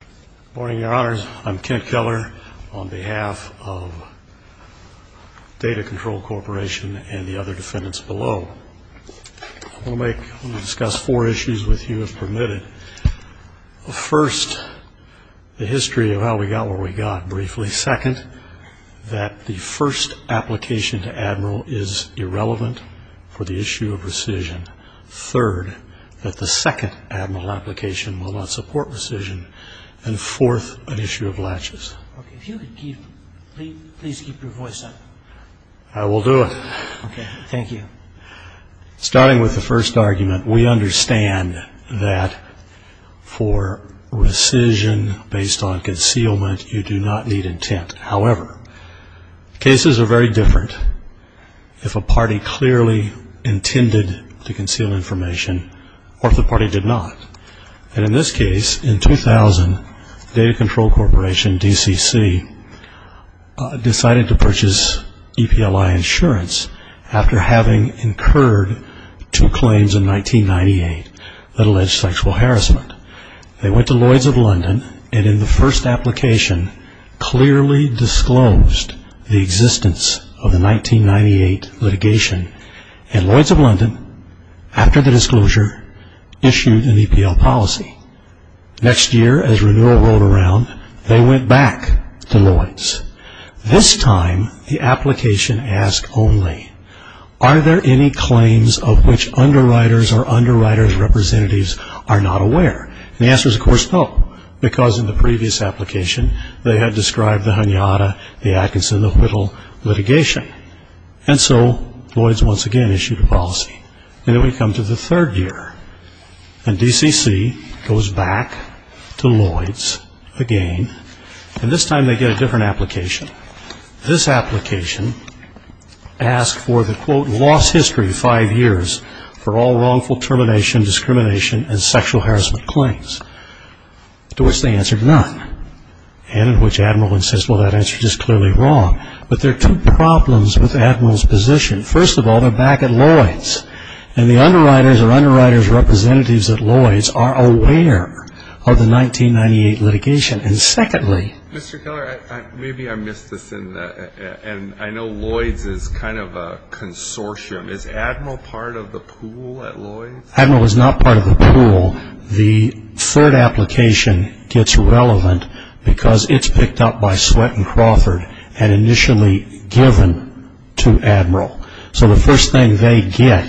Good morning, your honors. I'm Kent Keller on behalf of Data Control Corporation and the other defendants below. I want to discuss four issues with you, if permitted. First, the history of how we got where we got, briefly. Second, that the first application to Admiral is irrelevant for the issue of rescission. Third, that the second Admiral application will not support rescission. And fourth, an issue of latches. Okay, if you could please keep your voice up. I will do it. Okay, thank you. Starting with the first argument, we understand that for rescission based on concealment, you do not need intent. However, cases are very different if a party clearly intended to conceal information or if the party did not. And in this case, in 2000, Data Control Corporation, DCC, decided to purchase EPLI Insurance after having incurred two claims in 1998 that alleged sexual harassment. They went to Lloyd's of London and in the first application, clearly disclosed the existence of the 1998 litigation. And Lloyd's of London, after the disclosure, issued an EPL policy. Next year, as renewal rolled around, they went back to Lloyd's. This time, the application asked only, are there any claims of which underwriters or underwriters' representatives are not aware? And the answer is, of course, no, because in the previous application, they had described the Hanyata, the Atkinson, the Whittle litigation. And so, Lloyd's once again issued a policy. And then we come to the third year, and DCC goes back to Lloyd's again. And this time, they get a different application. This application asked for the, quote, lost history five years for all wrongful termination, discrimination, and sexual harassment claims, to which they answered none, and in which Admiral insists, well, that answer is clearly wrong. But there are two problems with Admiral's position. First of all, they're back at Lloyd's, and the underwriters or underwriters' representatives at Lloyd's are aware of the 1998 litigation. And secondly. Mr. Keller, maybe I missed this, and I know Lloyd's is kind of a consortium. Is Admiral part of the pool at Lloyd's? Admiral is not part of the pool. The third application gets relevant because it's picked up by Sweatt & Crawford and initially given to Admiral. So the first thing they get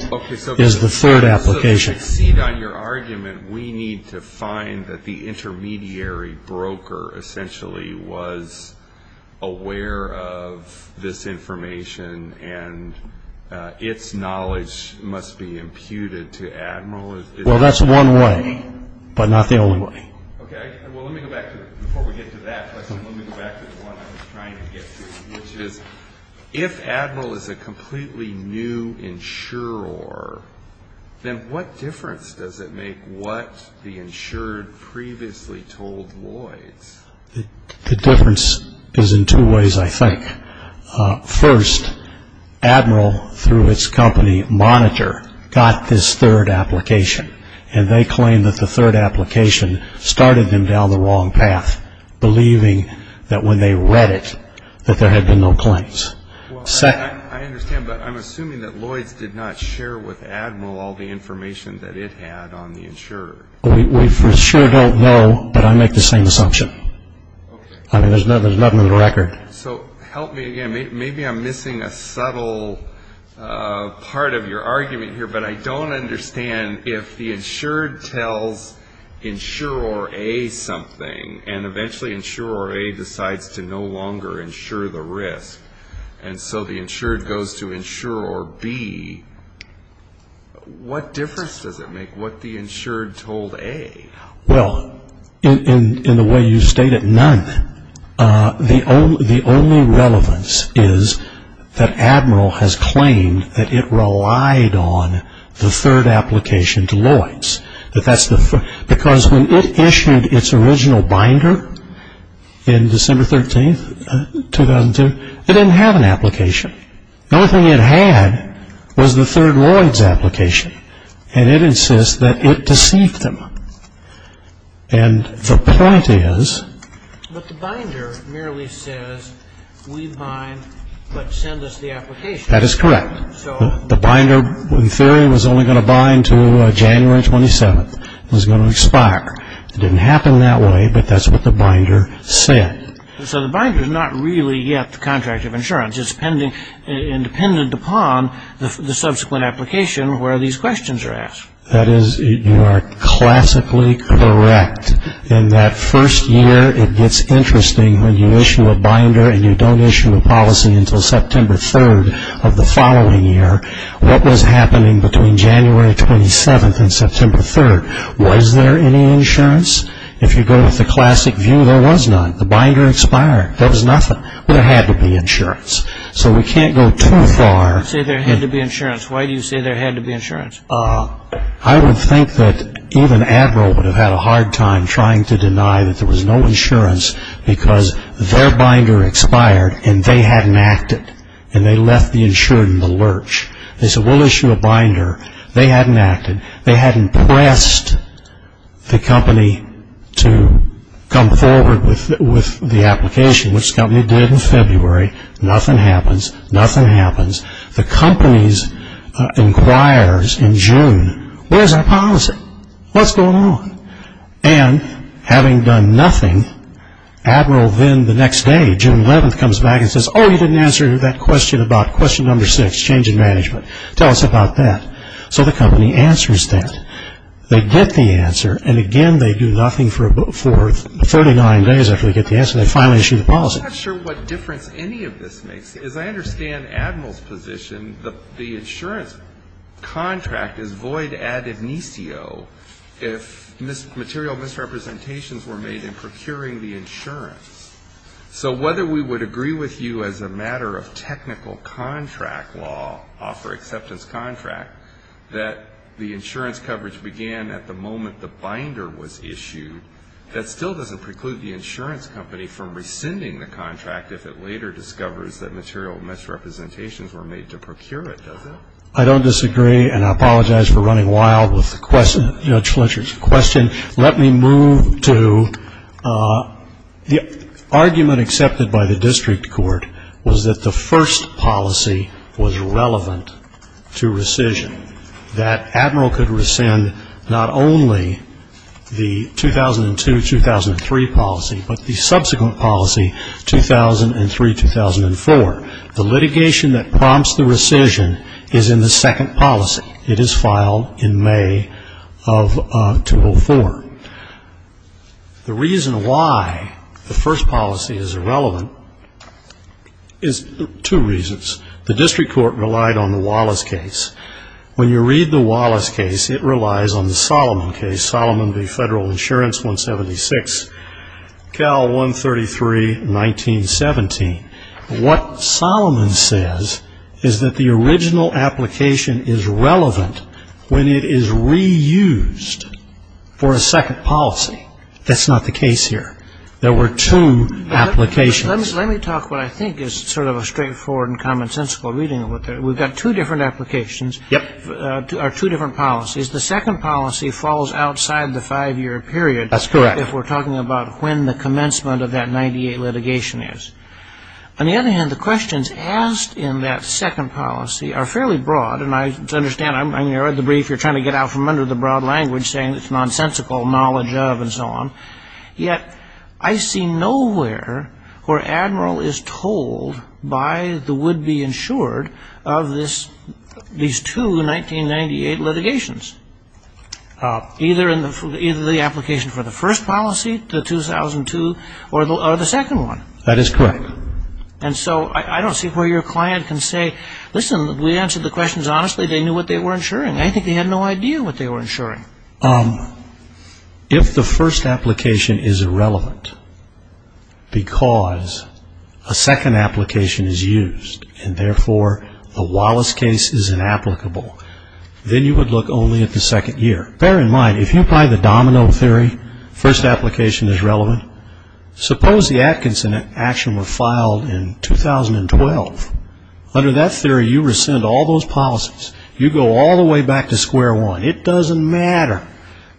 is the third application. To succeed on your argument, we need to find that the intermediary broker essentially was aware of this information and its knowledge must be imputed to Admiral. Well, that's one way, but not the only way. Okay. Well, let me go back to it. Before we get to that question, let me go back to the one I was trying to get to, which is if Admiral is a completely new insurer, then what difference does it make what the insured previously told Lloyd's? The difference is in two ways, I think. First, Admiral, through its company, Monitor, got this third application, and they claim that the third application started them down the wrong path, believing that when they read it that there had been no claims. I understand, but I'm assuming that Lloyd's did not share with Admiral all the information that it had on the insurer. We for sure don't know, but I make the same assumption. I mean, there's nothing on the record. So help me again. Maybe I'm missing a subtle part of your argument here, but I don't understand if the insured tells insurer A something, and eventually insurer A decides to no longer insure the risk, and so the insured goes to insurer B, what difference does it make what the insured told A? Well, in the way you state it, none. The only relevance is that Admiral has claimed that it relied on the third application to Lloyd's. Because when it issued its original binder in December 13, 2002, it didn't have an application. The only thing it had was the third Lloyd's application, and it insists that it deceived them. And the point is... But the binder merely says, we bind, but send us the application. That is correct. The binder, in theory, was only going to bind to January 27. It was going to expire. It didn't happen that way, but that's what the binder said. So the binder's not really yet the contract of insurance. It's independent upon the subsequent application where these questions are asked. That is, you are classically correct in that first year, it gets interesting when you issue a binder and you don't issue a policy until September 3rd of the following year. What was happening between January 27th and September 3rd? Was there any insurance? If you go with the classic view, there was none. The binder expired. There was nothing. There had to be insurance. So we can't go too far. You say there had to be insurance. Why do you say there had to be insurance? I would think that even Admiral would have had a hard time trying to deny that there was no insurance because their binder expired and they hadn't acted, and they left the insured in the lurch. They said, we'll issue a binder. They hadn't acted. They hadn't pressed the company to come forward with the application, which the company did in February. Nothing happens. Nothing happens. The company inquires in June, where's our policy? What's going on? And having done nothing, Admiral then the next day, June 11th, comes back and says, oh, you didn't answer that question about question number six, change in management. Tell us about that. So the company answers that. They get the answer, and again they do nothing for 49 days after they get the answer. They finally issue the policy. I'm not sure what difference any of this makes. As I understand Admiral's position, the insurance contract is void ad initio if material misrepresentations were made in procuring the insurance. So whether we would agree with you as a matter of technical contract law, offer acceptance contract, that the insurance coverage began at the moment the binder was issued, that still doesn't preclude the insurance company from rescinding the contract if it later discovers that material misrepresentations were made to procure it, does it? I don't disagree, and I apologize for running wild with the question. Let me move to the argument accepted by the district court was that the first policy was relevant to rescission, that Admiral could rescind not only the 2002-2003 policy, but the subsequent policy, 2003-2004. The litigation that prompts the rescission is in the second policy. It is filed in May of 2004. The reason why the first policy is irrelevant is two reasons. The district court relied on the Wallace case. When you read the Wallace case, it relies on the Solomon case, Solomon v. Federal Insurance, 176, Cal 133, 1917. What Solomon says is that the original application is relevant when it is reused for a second policy. That's not the case here. There were two applications. Let me talk what I think is sort of a straightforward and commonsensical reading. We've got two different applications or two different policies. The second policy falls outside the five-year period. That's correct. If we're talking about when the commencement of that 98 litigation is. On the other hand, the questions asked in that second policy are fairly broad, and I understand. I mean, I read the brief. You're trying to get out from under the broad language saying it's nonsensical knowledge of and so on. Yet I see nowhere where Admiral is told by the would-be insured of these two 1998 litigations, either in the application for the first policy, the 2002, or the second one. That is correct. And so I don't see where your client can say, listen, we answered the questions honestly. They knew what they were insuring. I think they had no idea what they were insuring. If the first application is irrelevant because a second application is used, and therefore the Wallace case is inapplicable, then you would look only at the second year. Bear in mind, if you apply the domino theory, first application is relevant. Suppose the Atkinson action were filed in 2012. Under that theory, you rescind all those policies. You go all the way back to square one. It doesn't matter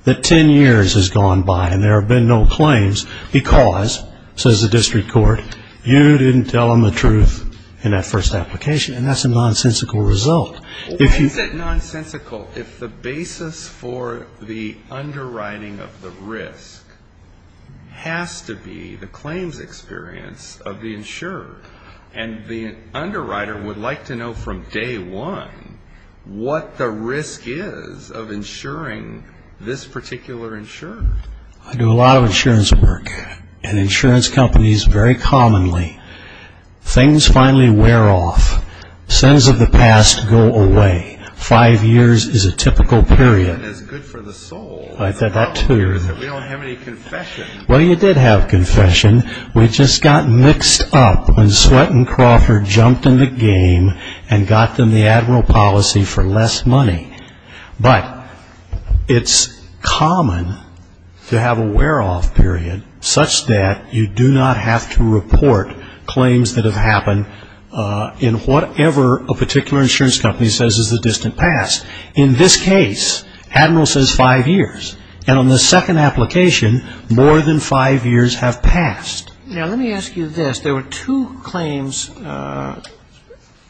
that ten years has gone by and there have been no claims because, says the district court, you didn't tell them the truth in that first application. And that's a nonsensical result. Why is that nonsensical if the basis for the underwriting of the risk has to be the claims experience of the insured? And the underwriter would like to know from day one what the risk is of insuring this particular insured. I do a lot of insurance work. In insurance companies, very commonly, things finally wear off. Sins of the past go away. Five years is a typical period. That's good for the soul. We don't have any confession. Well, you did have confession. We just got mixed up when Sweatt and Crawford jumped in the game and got them the Admiral policy for less money. But it's common to have a wear off period such that you do not have to report claims that have happened in whatever a particular insurance company says is the distant past. In this case, Admiral says five years. And on the second application, more than five years have passed. Now, let me ask you this. There were two claims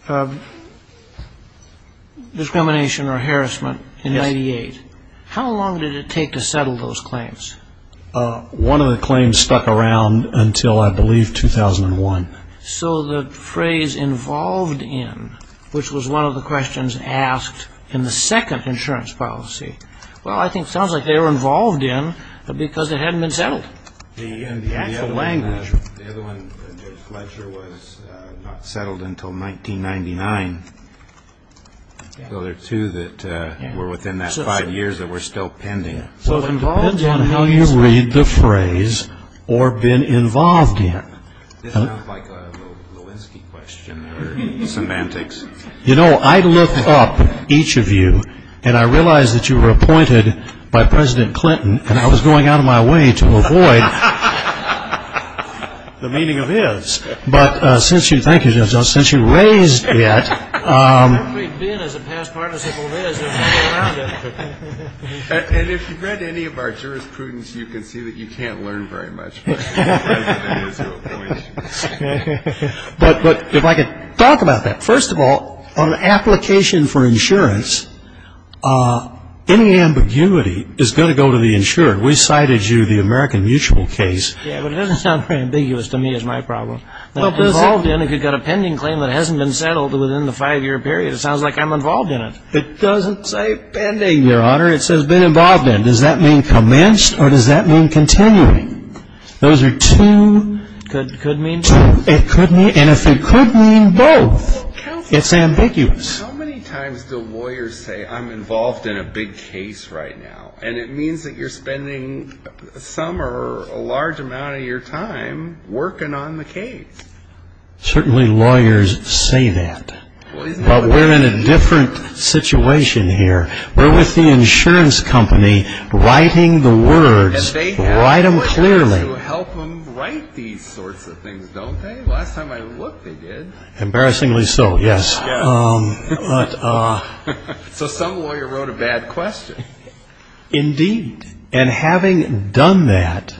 of discrimination or harassment in 98. How long did it take to settle those claims? One of the claims stuck around until I believe 2001. So the phrase involved in, which was one of the questions asked in the second insurance policy, well, I think it sounds like they were involved in because it hadn't been settled. The actual language. The other one, Judge Fletcher, was not settled until 1999. So there are two that were within that five years that were still pending. So it depends on how you read the phrase or been involved in. It sounds like a Lewinsky question or semantics. You know, I looked up each of you, and I realized that you were appointed by President Clinton, and I was going out of my way to avoid the meaning of his. But since you raised it. And if you've read any of our jurisprudence, you can see that you can't learn very much. But if I could talk about that. First of all, on an application for insurance, any ambiguity is going to go to the insurer. We cited you, the American Mutual case. Yeah, but it doesn't sound very ambiguous to me is my problem. Involved in, if you've got a pending claim that hasn't been settled within the five-year period, it sounds like I'm involved in it. It doesn't say pending, Your Honor. It says been involved in. Does that mean commenced or does that mean continuing? Those are two. Could mean two. It could mean, and if it could mean both, it's ambiguous. Counselor, how many times do lawyers say I'm involved in a big case right now, and it means that you're spending some or a large amount of your time working on the case? Certainly lawyers say that. But we're in a different situation here. We're with the insurance company writing the words, write them clearly. And they have lawyers who help them write these sorts of things, don't they? Last time I looked, they did. Embarrassingly so, yes. So some lawyer wrote a bad question. Indeed, and having done that,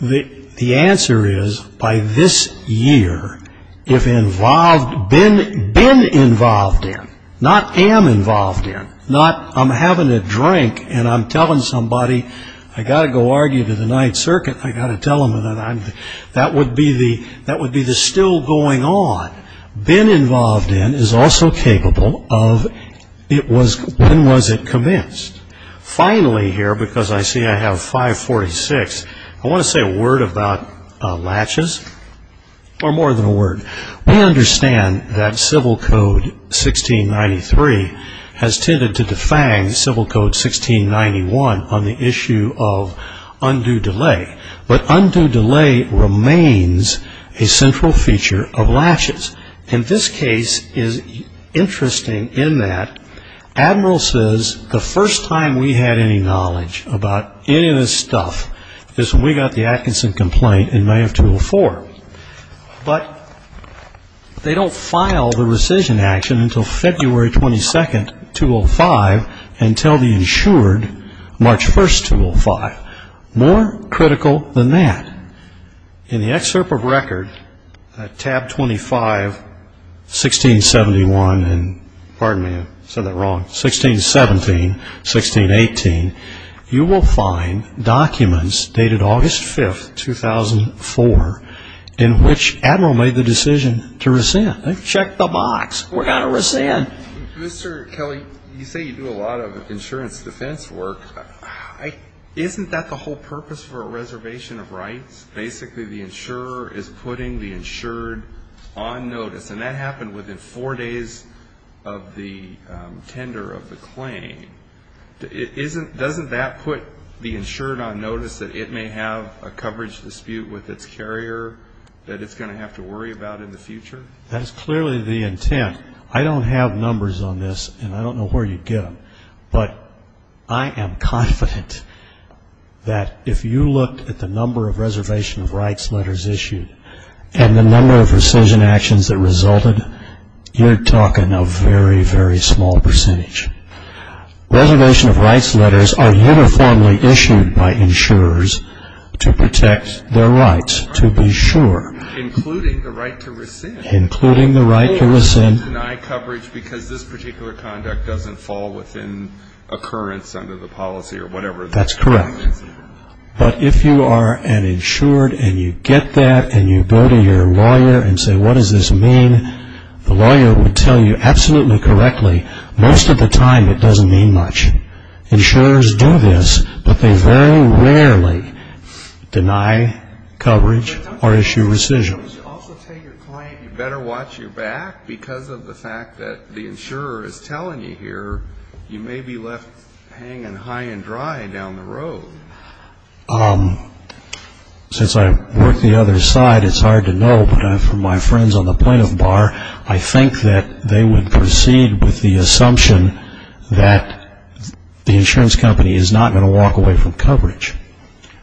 the answer is by this year, if involved, been involved in, not am involved in, not I'm having a drink and I'm telling somebody I've got to go argue to the Ninth Circuit, I've got to tell them that would be the still going on. Been involved in is also capable of when was it commenced. Finally here, because I see I have 546, I want to say a word about latches, or more than a word. We understand that Civil Code 1693 has tended to defang Civil Code 1691 on the issue of undue delay. But undue delay remains a central feature of latches. And this case is interesting in that Admiral says the first time we had any knowledge about any of this stuff is when we got the Atkinson complaint in May of 2004. But they don't file the rescission action until February 22, 2005, until the insured March 1, 2005. More critical than that, in the excerpt of record, tab 25, 1671, and pardon me, I said that wrong, 1617, 1618, you will find documents dated August 5, 2004, in which Admiral made the decision to rescind. Check the box. We're going to rescind. Mr. Kelly, you say you do a lot of insurance defense work. Isn't that the whole purpose for a reservation of rights? Basically the insurer is putting the insured on notice. And that happened within four days of the tender of the claim. Doesn't that put the insured on notice that it may have a coverage dispute with its carrier that it's going to have to worry about in the future? That is clearly the intent. I don't have numbers on this, and I don't know where you get them. But I am confident that if you looked at the number of reservation of rights letters issued and the number of rescission actions that resulted, you're talking a very, very small percentage. Reservation of rights letters are uniformly issued by insurers to protect their rights, to be sure. Including the right to rescind. Including the right to rescind. Most of them deny coverage because this particular conduct doesn't fall within occurrence under the policy or whatever. That's correct. But if you are an insured and you get that and you go to your lawyer and say, what does this mean, the lawyer would tell you absolutely correctly, most of the time it doesn't mean much. Insurers do this, but they very rarely deny coverage or issue rescissions. You also tell your client you better watch your back because of the fact that the insurer is telling you here you may be left hanging high and dry down the road. Since I work the other side, it's hard to know, but from my friends on the plaintiff bar, I think that they would proceed with the assumption that the insurance company is not going to walk away from coverage.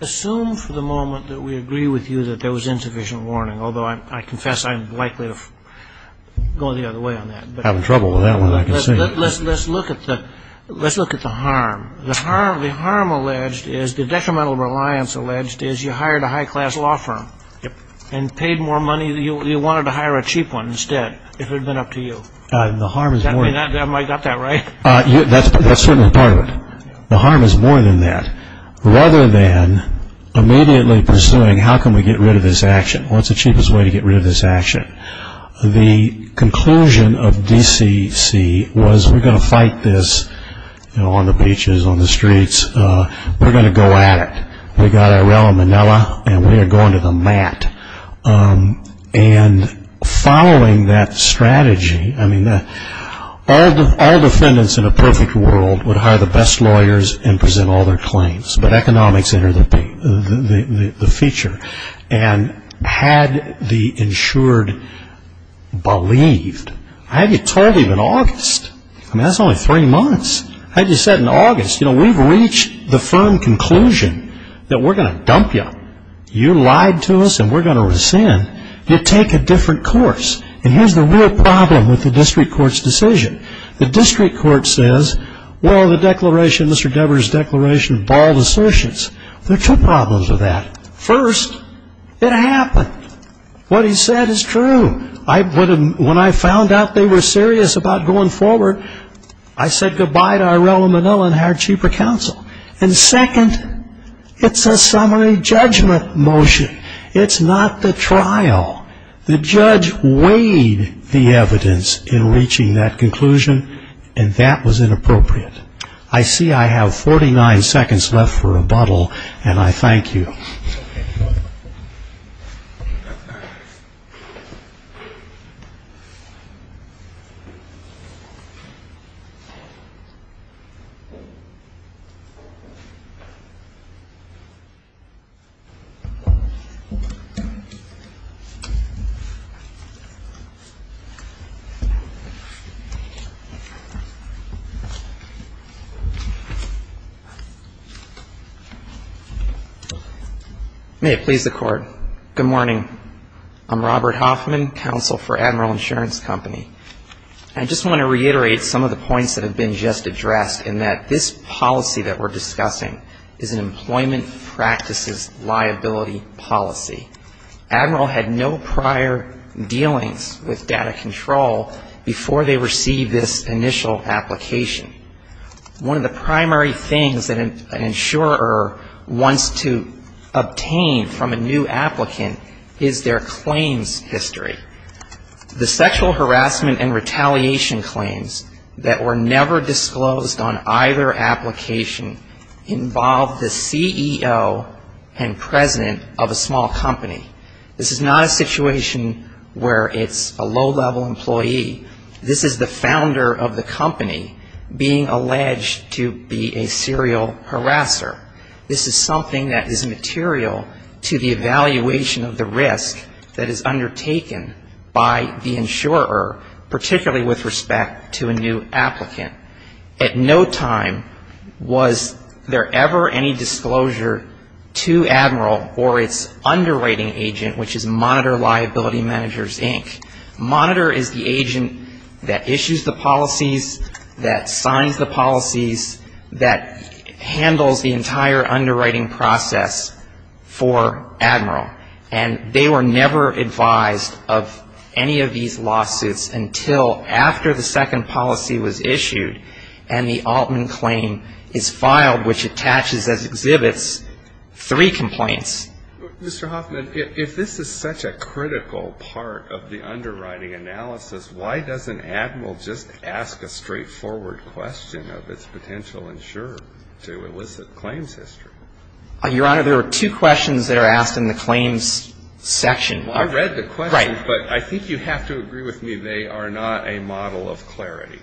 Assume for the moment that we agree with you that there was insufficient warning, although I confess I'm likely to go the other way on that. I'm having trouble with that one, I can see. Let's look at the harm. The harm alleged is the detrimental reliance alleged is you hired a high-class law firm and paid more money. You wanted to hire a cheap one instead if it had been up to you. I got that right? That's certainly part of it. The harm is more than that. Rather than immediately pursuing how can we get rid of this action, what's the cheapest way to get rid of this action? The conclusion of DCC was we're going to fight this on the beaches, on the streets. We're going to go at it. We got our rel in Manila, and we are going to the mat. And following that strategy, I mean, all defendants in a perfect world would hire the best lawyers and present all their claims, but economics entered the feature. And had the insured believed, I had you told him in August. I mean, that's only three months. I had you said in August, you know, we've reached the firm conclusion that we're going to dump you. You lied to us and we're going to rescind. You take a different course. And here's the real problem with the district court's decision. The district court says, well, the declaration, Mr. Devers' declaration, bald assertions. There are two problems with that. First, it happened. What he said is true. When I found out they were serious about going forward, I said goodbye to our rel in Manila and hired cheaper counsel. And second, it's a summary judgment motion. It's not the trial. The judge weighed the evidence in reaching that conclusion, and that was inappropriate. I see I have 49 seconds left for rebuttal, and I thank you. May it please the Court. Good morning. I'm Robert Hoffman, counsel for Admiral Insurance Company. I just want to reiterate some of the points that have been just addressed, in that this policy that we're discussing is an employment practices liability policy. Admiral had no prior dealings with data control before they received this initial application. One of the primary things that an insurer wants to obtain from a new applicant is their claims history. The sexual harassment and retaliation claims that were never disclosed on either application involved the CEO and president of a small company. This is not a situation where it's a low-level employee. This is the founder of the company being alleged to be a serial harasser. This is something that is material to the evaluation of the risk that is undertaken by the insurer, particularly with respect to a new applicant. At no time was there ever any disclosure to Admiral or its underwriting agent, which is Monitor Liability Managers, Inc. Monitor is the agent that issues the policies, that signs the policies, that handles the entire underwriting process for Admiral. And they were never advised of any of these lawsuits until after the second policy was issued and the Altman claim is filed, which attaches as exhibits three complaints. Mr. Hoffman, if this is such a critical part of the underwriting analysis, why doesn't Admiral just ask a straightforward question of its potential insurer to elicit claims history? Your Honor, there are two questions that are asked in the claims section. I read the questions, but I think you have to agree with me they are not a model of clarity.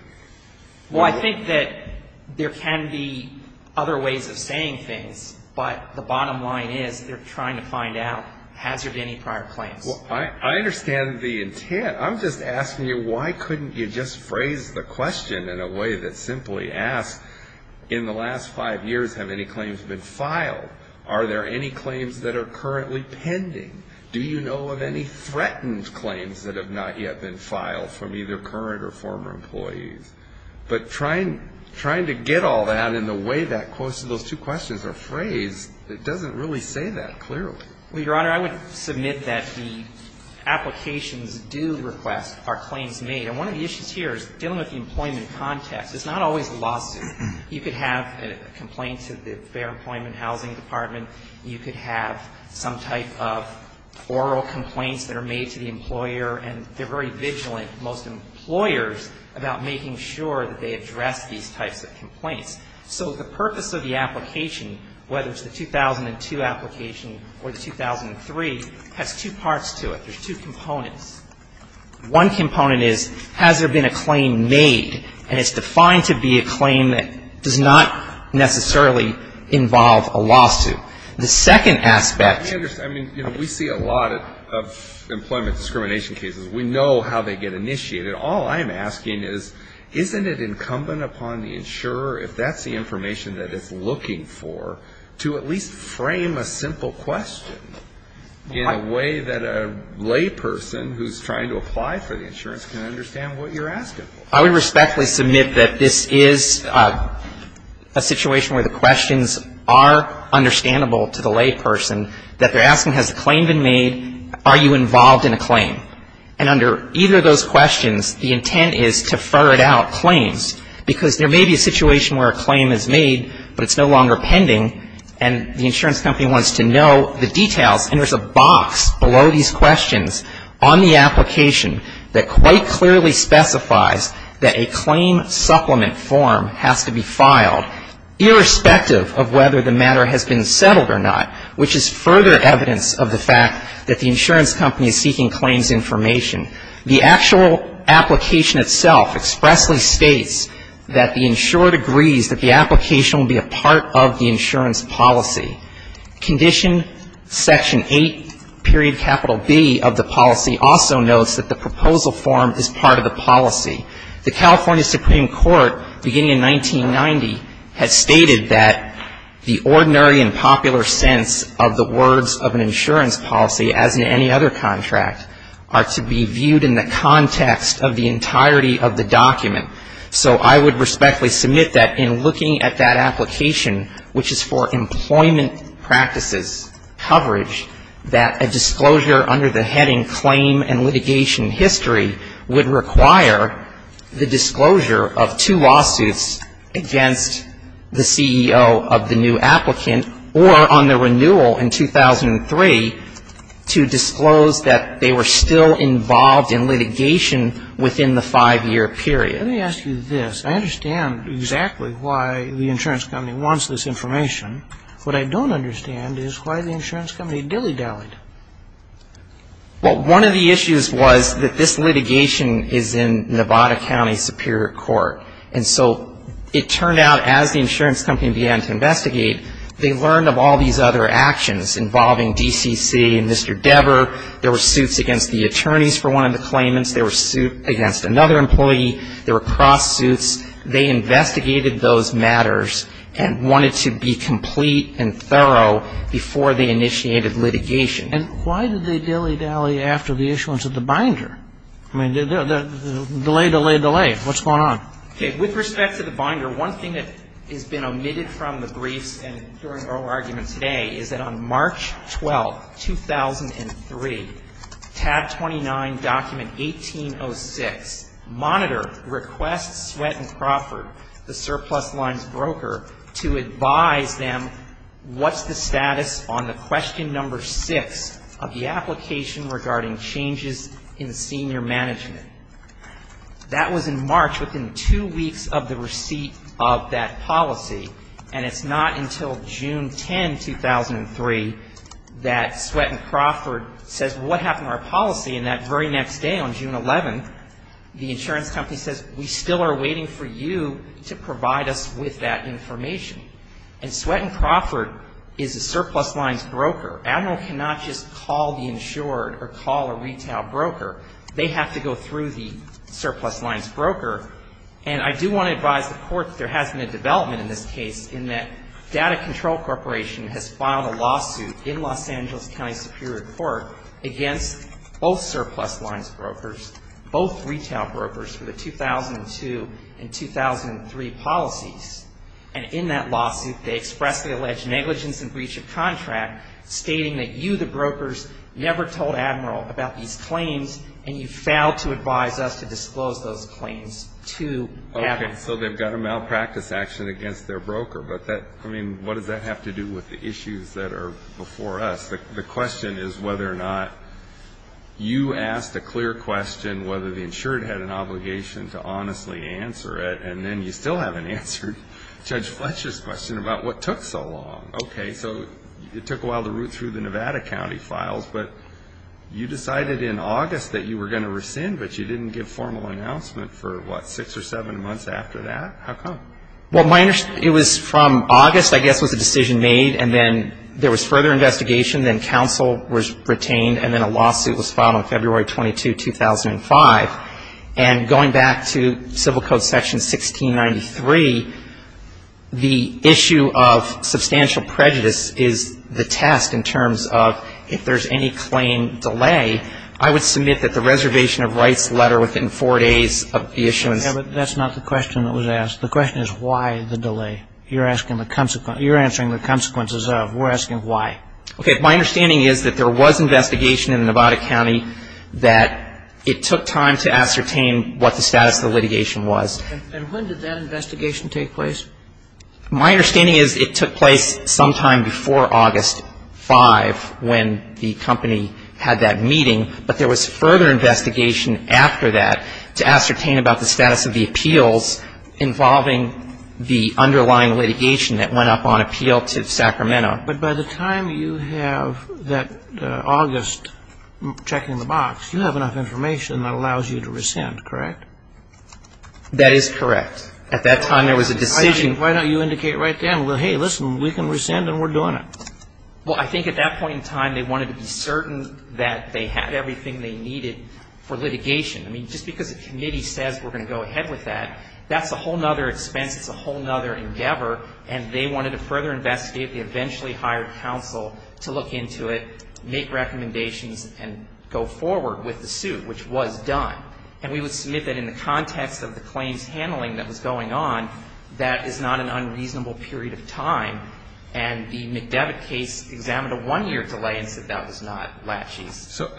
Well, I think that there can be other ways of saying things, but the bottom line is they're trying to find out has there been any prior claims. Well, I understand the intent. I'm just asking you why couldn't you just phrase the question in a way that simply asks, in the last five years have any claims been filed? Are there any claims that are currently pending? Do you know of any threatened claims that have not yet been filed from either current or former employees? But trying to get all that in the way that those two questions are phrased, it doesn't really say that clearly. Well, Your Honor, I would submit that the applications do request are claims made. And one of the issues here is dealing with the employment context. It's not always lawsuit. You could have a complaint to the Fair Employment Housing Department. You could have some type of oral complaints that are made to the employer, and they're very vigilant, most employers, about making sure that they address these types of complaints. So the purpose of the application, whether it's the 2002 application or the 2003, has two parts to it. There's two components. One component is, has there been a claim made? And it's defined to be a claim that does not necessarily involve a lawsuit. The second aspect. I mean, you know, we see a lot of employment discrimination cases. We know how they get initiated. All I'm asking is, isn't it incumbent upon the insurer, if that's the information that it's looking for, to at least frame a simple question in a way that a layperson who's trying to apply for the insurance can understand what you're asking for? I would respectfully submit that this is a situation where the questions are understandable to the layperson, that they're asking, has a claim been made? Are you involved in a claim? And under either of those questions, the intent is to ferret out claims. Because there may be a situation where a claim is made, but it's no longer pending, and the insurance company wants to know the details. And there's a box below these questions on the application that quite clearly specifies that a claim supplement form has to be filed, irrespective of whether the matter has been settled or not, which is further evidence of the fact that the insurance company is seeking claims information. The actual application itself expressly states that the insured agrees that the application will be a part of the insurance policy. Condition Section 8.B of the policy also notes that the proposal form is part of the policy. The California Supreme Court, beginning in 1990, has stated that the ordinary and popular sense of the words of an insurance policy, as in any other contract, are to be viewed in the context of the entirety of the document. So I would respectfully submit that in looking at that application, which is for employment practices coverage, that a disclosure under the heading claim and litigation history would require the disclosure of two lawsuits against the CEO of the new applicant, or on the renewal in 2003, to disclose that they were still involved in litigation within the five-year period. Let me ask you this. I understand exactly why the insurance company wants this information. What I don't understand is why the insurance company dilly-dallied. Well, one of the issues was that this litigation is in Nevada County Superior Court. And so it turned out, as the insurance company began to investigate, they learned of all these other actions involving DCC and Mr. Deber. There were suits against the attorneys for one of the claimants. There were suits against another employee. There were cross-suits. They investigated those matters and wanted to be complete and thorough before they initiated litigation. And why did they dilly-dally after the issuance of the binder? I mean, delay, delay, delay. What's going on? Okay. With respect to the binder, one thing that has been omitted from the briefs and during our argument today is that on March 12, 2003, tab 29, document 1806, monitor, request Sweatt & Crawford, the surplus lines broker, to advise them what's the status on the question number 6 of the application regarding changes in senior management. That was in March, within two weeks of the receipt of that policy. And it's not until June 10, 2003, that Sweatt & Crawford says, well, what happened to our policy? And that very next day on June 11, the insurance company says, we still are waiting for you to provide us with that information. And Sweatt & Crawford is a surplus lines broker. Admiral cannot just call the insured or call a retail broker. They have to go through the surplus lines broker. And I do want to advise the Court that there has been a development in this case in that Data Control Corporation has filed a lawsuit in Los Angeles County Superior Court against both surplus lines brokers, both retail brokers for the 2002 and 2003 policies. And in that lawsuit, they expressly allege negligence in breach of contract, stating that you, the brokers, never told Admiral about these claims, and you failed to advise us to disclose those claims to Admiral. Okay, so they've got a malpractice action against their broker. But, I mean, what does that have to do with the issues that are before us? The question is whether or not you asked a clear question, whether the insured had an obligation to honestly answer it, and then you still haven't answered Judge Fletcher's question about what took so long. Okay, so it took a while to root through the Nevada County files, but you decided in August that you were going to rescind, but you didn't give formal announcement for, what, six or seven months after that? How come? Well, it was from August, I guess, was the decision made, and then there was further investigation, then counsel was retained, and then a lawsuit was filed on February 22, 2005. And going back to Civil Code Section 1693, the issue of substantial prejudice is the test in terms of if there's any claim delay. I would submit that the reservation of rights letter within four days of the issuance. Yeah, but that's not the question that was asked. The question is why the delay. You're asking the consequence. You're answering the consequences of. We're asking why. Okay, my understanding is that there was investigation in Nevada County that it took time to ascertain what the status of the litigation was. And when did that investigation take place? My understanding is it took place sometime before August 5 when the company had that meeting, but there was further investigation after that to ascertain about the status of the appeals involving the underlying litigation that went up on appeal to Sacramento. But by the time you have that August checking the box, you have enough information that allows you to rescind, correct? That is correct. At that time, there was a decision. Why don't you indicate right then, well, hey, listen, we can rescind and we're doing it. Well, I think at that point in time, they wanted to be certain that they had everything they needed for litigation. I mean, just because a committee says we're going to go ahead with that, that's a whole other expense, it's a whole other endeavor, and they wanted to further investigate. They eventually hired counsel to look into it, make recommendations, and go forward with the suit, which was done. And we would submit that in the context of the claims handling that was going on, that is not an unreasonable period of time. And the McDevitt case examined a one-year delay and said that was not laches. So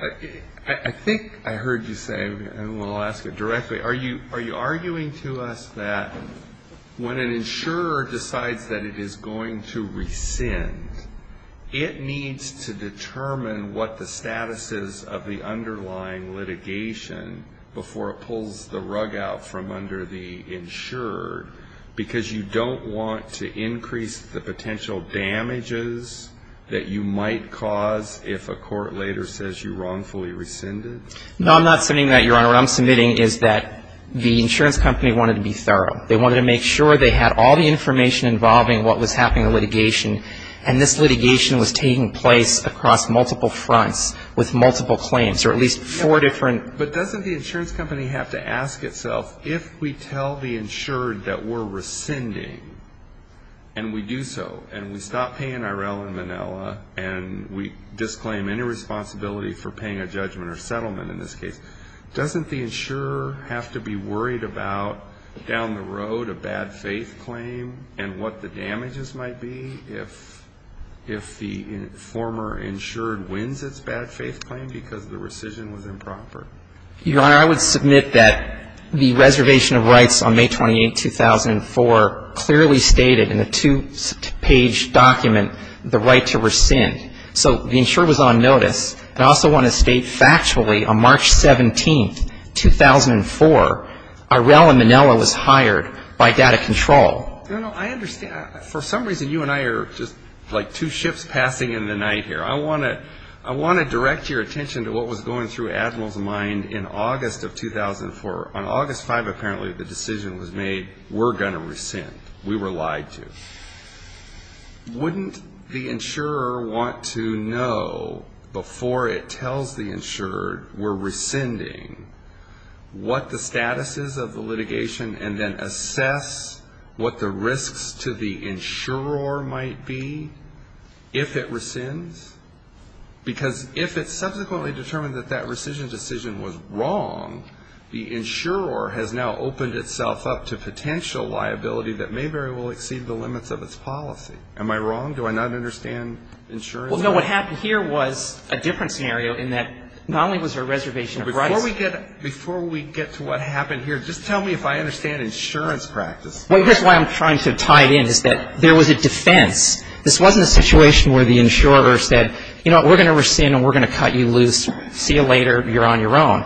I think I heard you say, and we'll ask it directly, are you arguing to us that when an insurer decides that it is going to rescind, it needs to determine what the status is of the underlying litigation before it pulls the rug out from under the insurer, because you don't want to increase the potential damages that you might cause if a court later says you wrongfully rescinded? No, I'm not submitting that, Your Honor. What I'm submitting is that the insurance company wanted to be thorough. They wanted to make sure they had all the information involving what was happening in the litigation, and this litigation was taking place across multiple fronts with multiple claims, or at least four different. But doesn't the insurance company have to ask itself, if we tell the insurer that we're rescinding, and we do so, and we stop paying IRL in Manila, and we disclaim any responsibility for paying a judgment or settlement in this case, doesn't the insurer have to be worried about down the road a bad faith claim and what the damages might be if the former insured wins its bad faith claim because the rescission was improper? Your Honor, I would submit that the reservation of rights on May 28, 2004, clearly stated in a two-page document the right to rescind. So the insurer was on notice. I also want to state factually on March 17, 2004, IRL in Manila was hired by data control. I understand. For some reason, you and I are just like two ships passing in the night here. I want to direct your attention to what was going through Admiral's mind in August of 2004. On August 5, apparently, the decision was made, we're going to rescind. We were lied to. Wouldn't the insurer want to know before it tells the insured we're rescinding what the status is of the litigation and then assess what the risks to the insurer might be if it rescinds? Because if it's subsequently determined that that rescission decision was wrong, the insurer has now opened itself up to potential liability that may very well exceed the limits of its policy. Am I wrong? Do I not understand insurance? No, what happened here was a different scenario in that not only was there a reservation of rights. Before we get to what happened here, just tell me if I understand insurance practice. Well, that's why I'm trying to tie it in is that there was a defense. This wasn't a situation where the insurer said, you know what, we're going to rescind and we're going to cut you loose. See you later. You're on your own.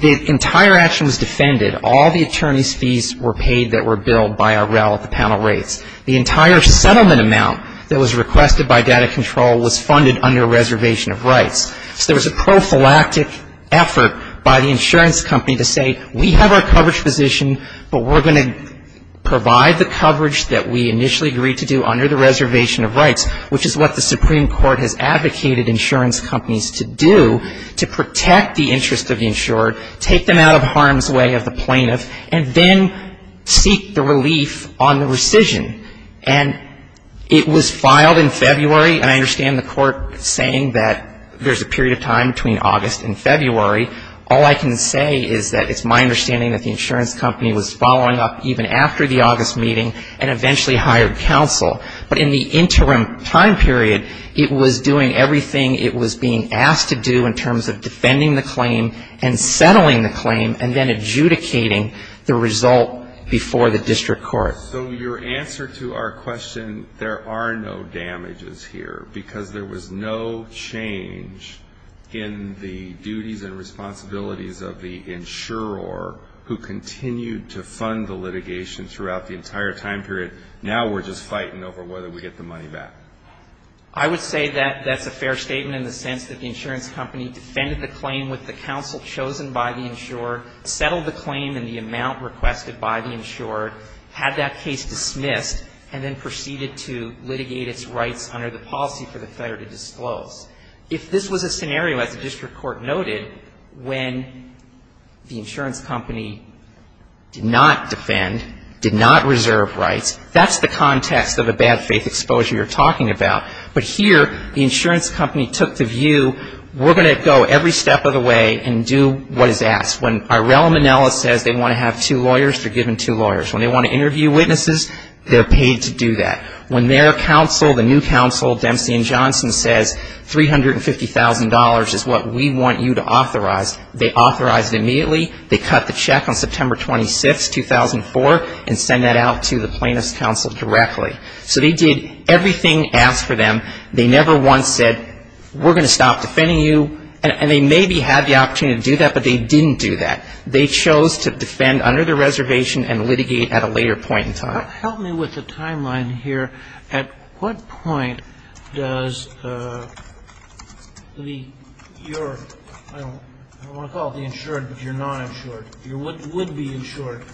The entire action was defended. All the attorney's fees were paid that were billed by IRL at the panel rates. The entire settlement amount that was requested by data control was funded under a reservation of rights. So there was a prophylactic effort by the insurance company to say we have our coverage position, but we're going to provide the coverage that we initially agreed to do under the reservation of rights, which is what the Supreme Court has advocated insurance companies to do to protect the interest of the insured, take them out of harm's way of the plaintiff, and then seek the relief on the rescission. And it was filed in February, and I understand the court saying that there's a period of time between August and February. All I can say is that it's my understanding that the insurance company was following up even after the August meeting and eventually hired counsel. But in the interim time period, it was doing everything it was being asked to do in terms of defending the claim and settling the claim and then adjudicating the result before the district court. So your answer to our question, there are no damages here, because there was no change in the duties and responsibilities of the insurer who continued to fund the litigation throughout the entire time period. Now we're just fighting over whether we get the money back. I would say that that's a fair statement in the sense that the insurance company defended the claim with the counsel chosen by the insurer, settled the claim in the amount requested by the insurer, had that case dismissed, and then proceeded to litigate its rights under the policy for the Federal to disclose. If this was a scenario, as the district court noted, when the insurance company did not defend, did not reserve rights, that's the context of a bad faith exposure you're talking about. But here, the insurance company took the view, we're going to go every step of the way and do what is asked. When Arella Manella says they want to have two lawyers, they're given two lawyers. When they want to interview witnesses, they're paid to do that. When their counsel, the new counsel Dempsey and Johnson says $350,000 is what we want you to authorize, they authorize it immediately. They cut the check on September 26, 2004, and send that out to the plaintiff's counsel directly. So they did everything asked for them. They never once said, we're going to stop defending you. And they maybe had the opportunity to do that, but they didn't do that. They chose to defend under the reservation and litigate at a later point in time. Help me with the timeline here. At what point does the, your, I don't want to call it the insured, but your non-insured, your would-be insured,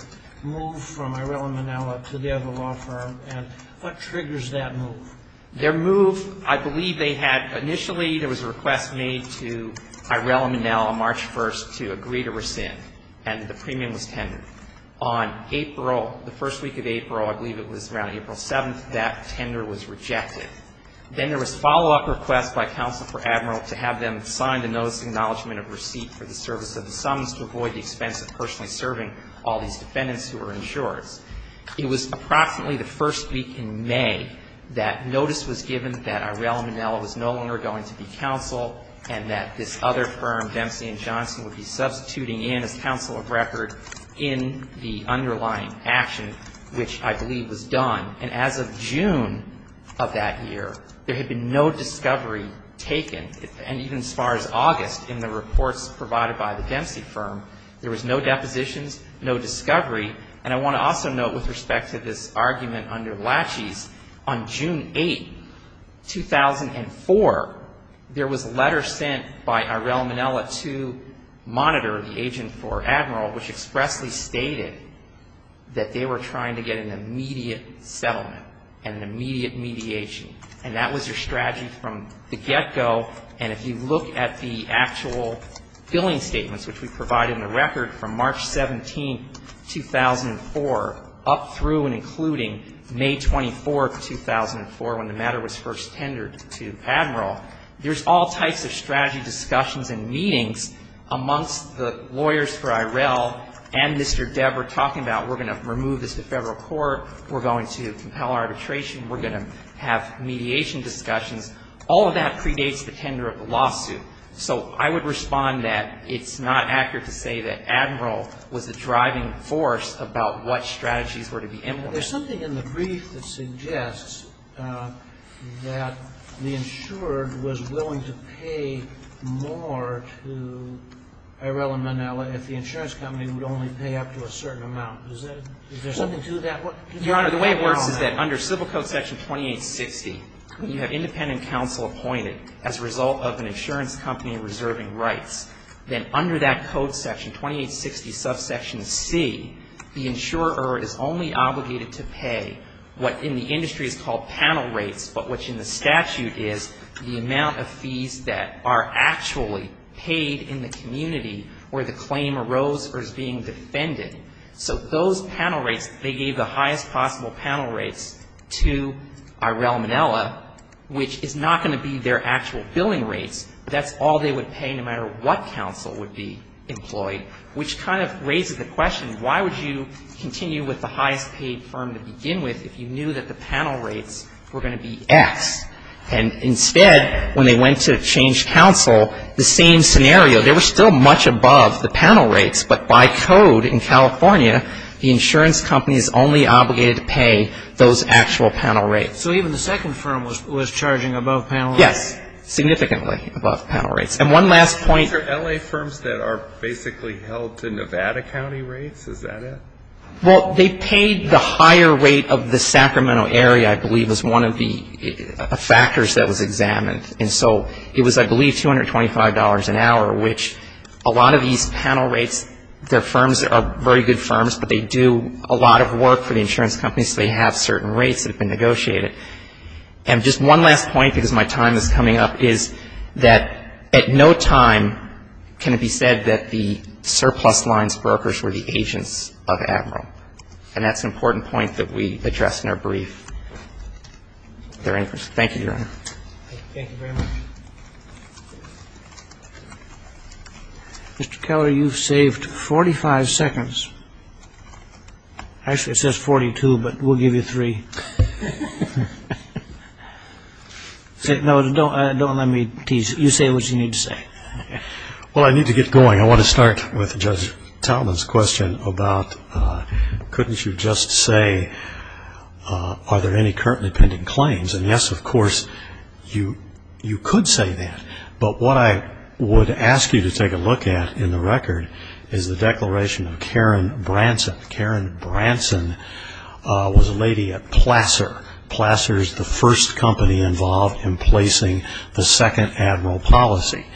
move from Arella Manella to the other law firm? And what triggers that move? Their move, I believe they had, initially there was a request made to Arella Manella March 1st to agree to rescind. And the premium was tendered. On April, the first week of April, I believe it was around April 7th, that tender was rejected. Then there was a follow-up request by counsel for Admiral to have them sign the notice of acknowledgement of receipt for the service of the summons to avoid the expense of personally serving all these defendants who were insured. It was approximately the first week in May that notice was given that Arella Manella was no longer going to be counsel and that this other firm, Dempsey & Johnson, would be substituting in as counsel of record in the underlying action, which I believe was done. And as of June of that year, there had been no discovery taken. And even as far as August, in the reports provided by the Dempsey firm, there was no depositions, no discovery. And I want to also note with respect to this argument under Lachey's, on June 8th, 2004, there was a letter sent by Arella Manella to Monitor, the agent for Admiral, which expressly stated that they were trying to get an immediate settlement and an immediate mediation. And that was their strategy from the get-go. And if you look at the actual billing statements, which we provided in the record from March 17th, 2004, up through and including May 24th, 2004, when the matter was first tendered to Admiral, there's all types of strategy discussions and meetings amongst the lawyers for Arella and Mr. Devere talking about we're going to remove this to federal court, we're going to compel arbitration, we're going to have mediation discussions. All of that predates the tender of the lawsuit. So I would respond that it's not accurate to say that Admiral was the driving force about what strategies were to be implemented. Sotomayor There's something in the brief that suggests that the insured was willing to pay more to Arella Manella if the insurance company would only pay up to a certain amount. Is there something to that? Goldstein Your Honor, the way it works is that under Civil Code Section 2860, you have independent counsel appointed as a result of an insurance company reserving rights. Then under that code section, 2860 subsection C, the insurer is only obligated to pay what in the industry is called panel rates, but which in the statute is the amount of fees that are actually paid in the community where the claim arose or is being defended. So those panel rates, they gave the highest possible panel rates to Arella Manella, which is not going to be their actual billing rates. That's all they would pay no matter what counsel would be employed, which kind of raises the question, why would you continue with the highest paid firm to begin with if you knew that the panel rates were going to be X? And instead, when they went to change counsel, the same scenario. They were still much above the panel rates, but by code in California, the insurance company is only obligated to pay those actual panel rates. So even the second firm was charging above panel rates? Yes, significantly above panel rates. And one last point. These are LA firms that are basically held to Nevada County rates? Is that it? Well, they paid the higher rate of the Sacramento area, I believe, as one of the factors that was examined. And so it was, I believe, $225 an hour, which a lot of these panel rates, they're firms that are very good firms, but they do a lot of work for the insurance companies, so they have certain rates that have been negotiated. And just one last point, because my time is coming up, is that at no time can it be said that the surplus lines brokers were the agents of Admiral. And that's an important point that we addressed in our brief. Thank you, Your Honor. Thank you very much. Mr. Keller, you've saved 45 seconds. Actually, it says 42, but we'll give you three. No, don't let me tease. You say what you need to say. Well, I need to get going. I want to start with Judge Taubman's question about couldn't you just say, are there any currently pending claims? And, yes, of course, you could say that. But what I would ask you to take a look at in the record is the declaration of Karen Branson. Karen Branson was a lady at Plasser. Plasser is the first company involved in placing the second Admiral policy.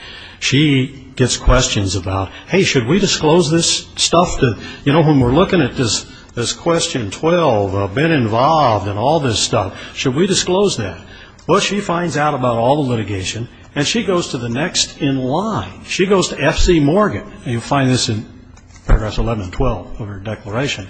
She gets questions about, hey, should we disclose this stuff to, you know, when we're looking at this question 12, been involved in all this stuff, should we disclose that? Well, she finds out about all the litigation, and she goes to the next in line. She goes to F.C. Morgan, and you'll find this in paragraphs 11 and 12 of her declaration,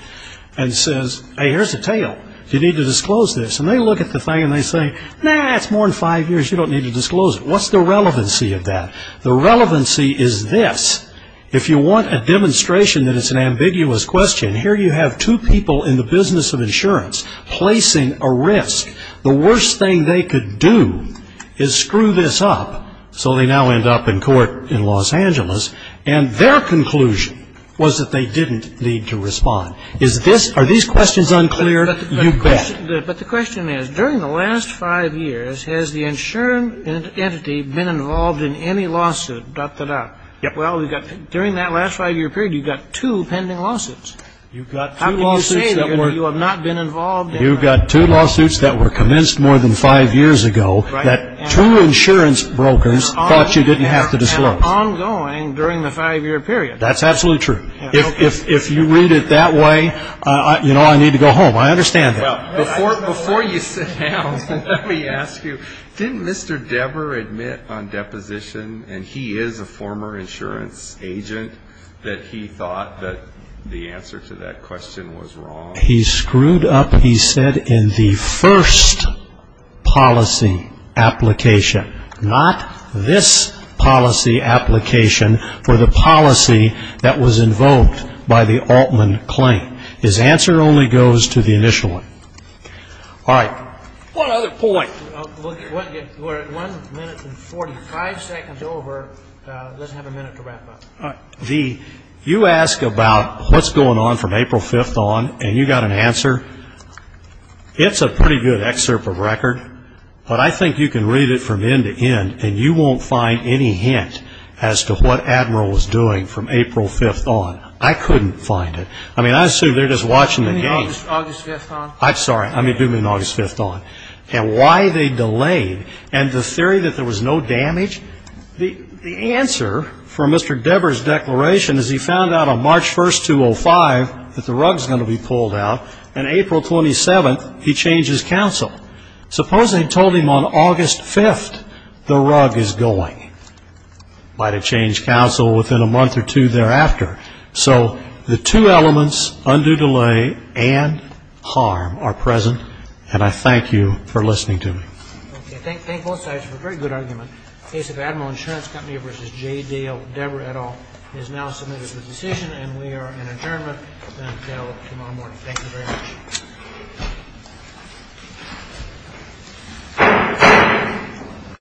and says, hey, here's the tale. Do you need to disclose this? And they look at the thing and they say, nah, it's more than five years. You don't need to disclose it. What's the relevancy of that? The relevancy is this. If you want a demonstration that it's an ambiguous question, and here you have two people in the business of insurance placing a risk, the worst thing they could do is screw this up, so they now end up in court in Los Angeles, and their conclusion was that they didn't need to respond. Are these questions unclear? You bet. But the question is, during the last five years, has the insurance entity been involved in any lawsuit, dot, dot, dot? Well, during that last five-year period, you've got two pending lawsuits. How can you say that you have not been involved? You've got two lawsuits that were commenced more than five years ago that two insurance brokers thought you didn't have to disclose. And ongoing during the five-year period. That's absolutely true. If you read it that way, you know, I need to go home. I understand that. Before you sit down, let me ask you, didn't Mr. Deber admit on deposition, and he is a former insurance agent, that he thought that the answer to that question was wrong? He screwed up, he said, in the first policy application, not this policy application for the policy that was invoked by the Altman claim. His answer only goes to the initial one. All right. One other point. We're at one minute and 45 seconds over. Let's have a minute to wrap up. You ask about what's going on from April 5th on, and you got an answer. It's a pretty good excerpt of record, but I think you can read it from end to end, and you won't find any hint as to what Admiral was doing from April 5th on. I couldn't find it. I mean, I assume they're just watching the game. August 5th on? I'm sorry. I mean, do you mean August 5th on? And why they delayed, and the theory that there was no damage? The answer for Mr. Deber's declaration is he found out on March 1st, 2005, that the rug's going to be pulled out, and April 27th, he changed his counsel. Suppose they told him on August 5th the rug is going. Might have changed counsel within a month or two thereafter. So the two elements, undue delay and harm, are present, and I thank you for listening to me. Okay. Thank both sides for a very good argument. The case of Admiral Insurance Company v. J. Deber et al. is now submitted for decision, and we are in adjournment until tomorrow morning. Thank you very much. Thank you.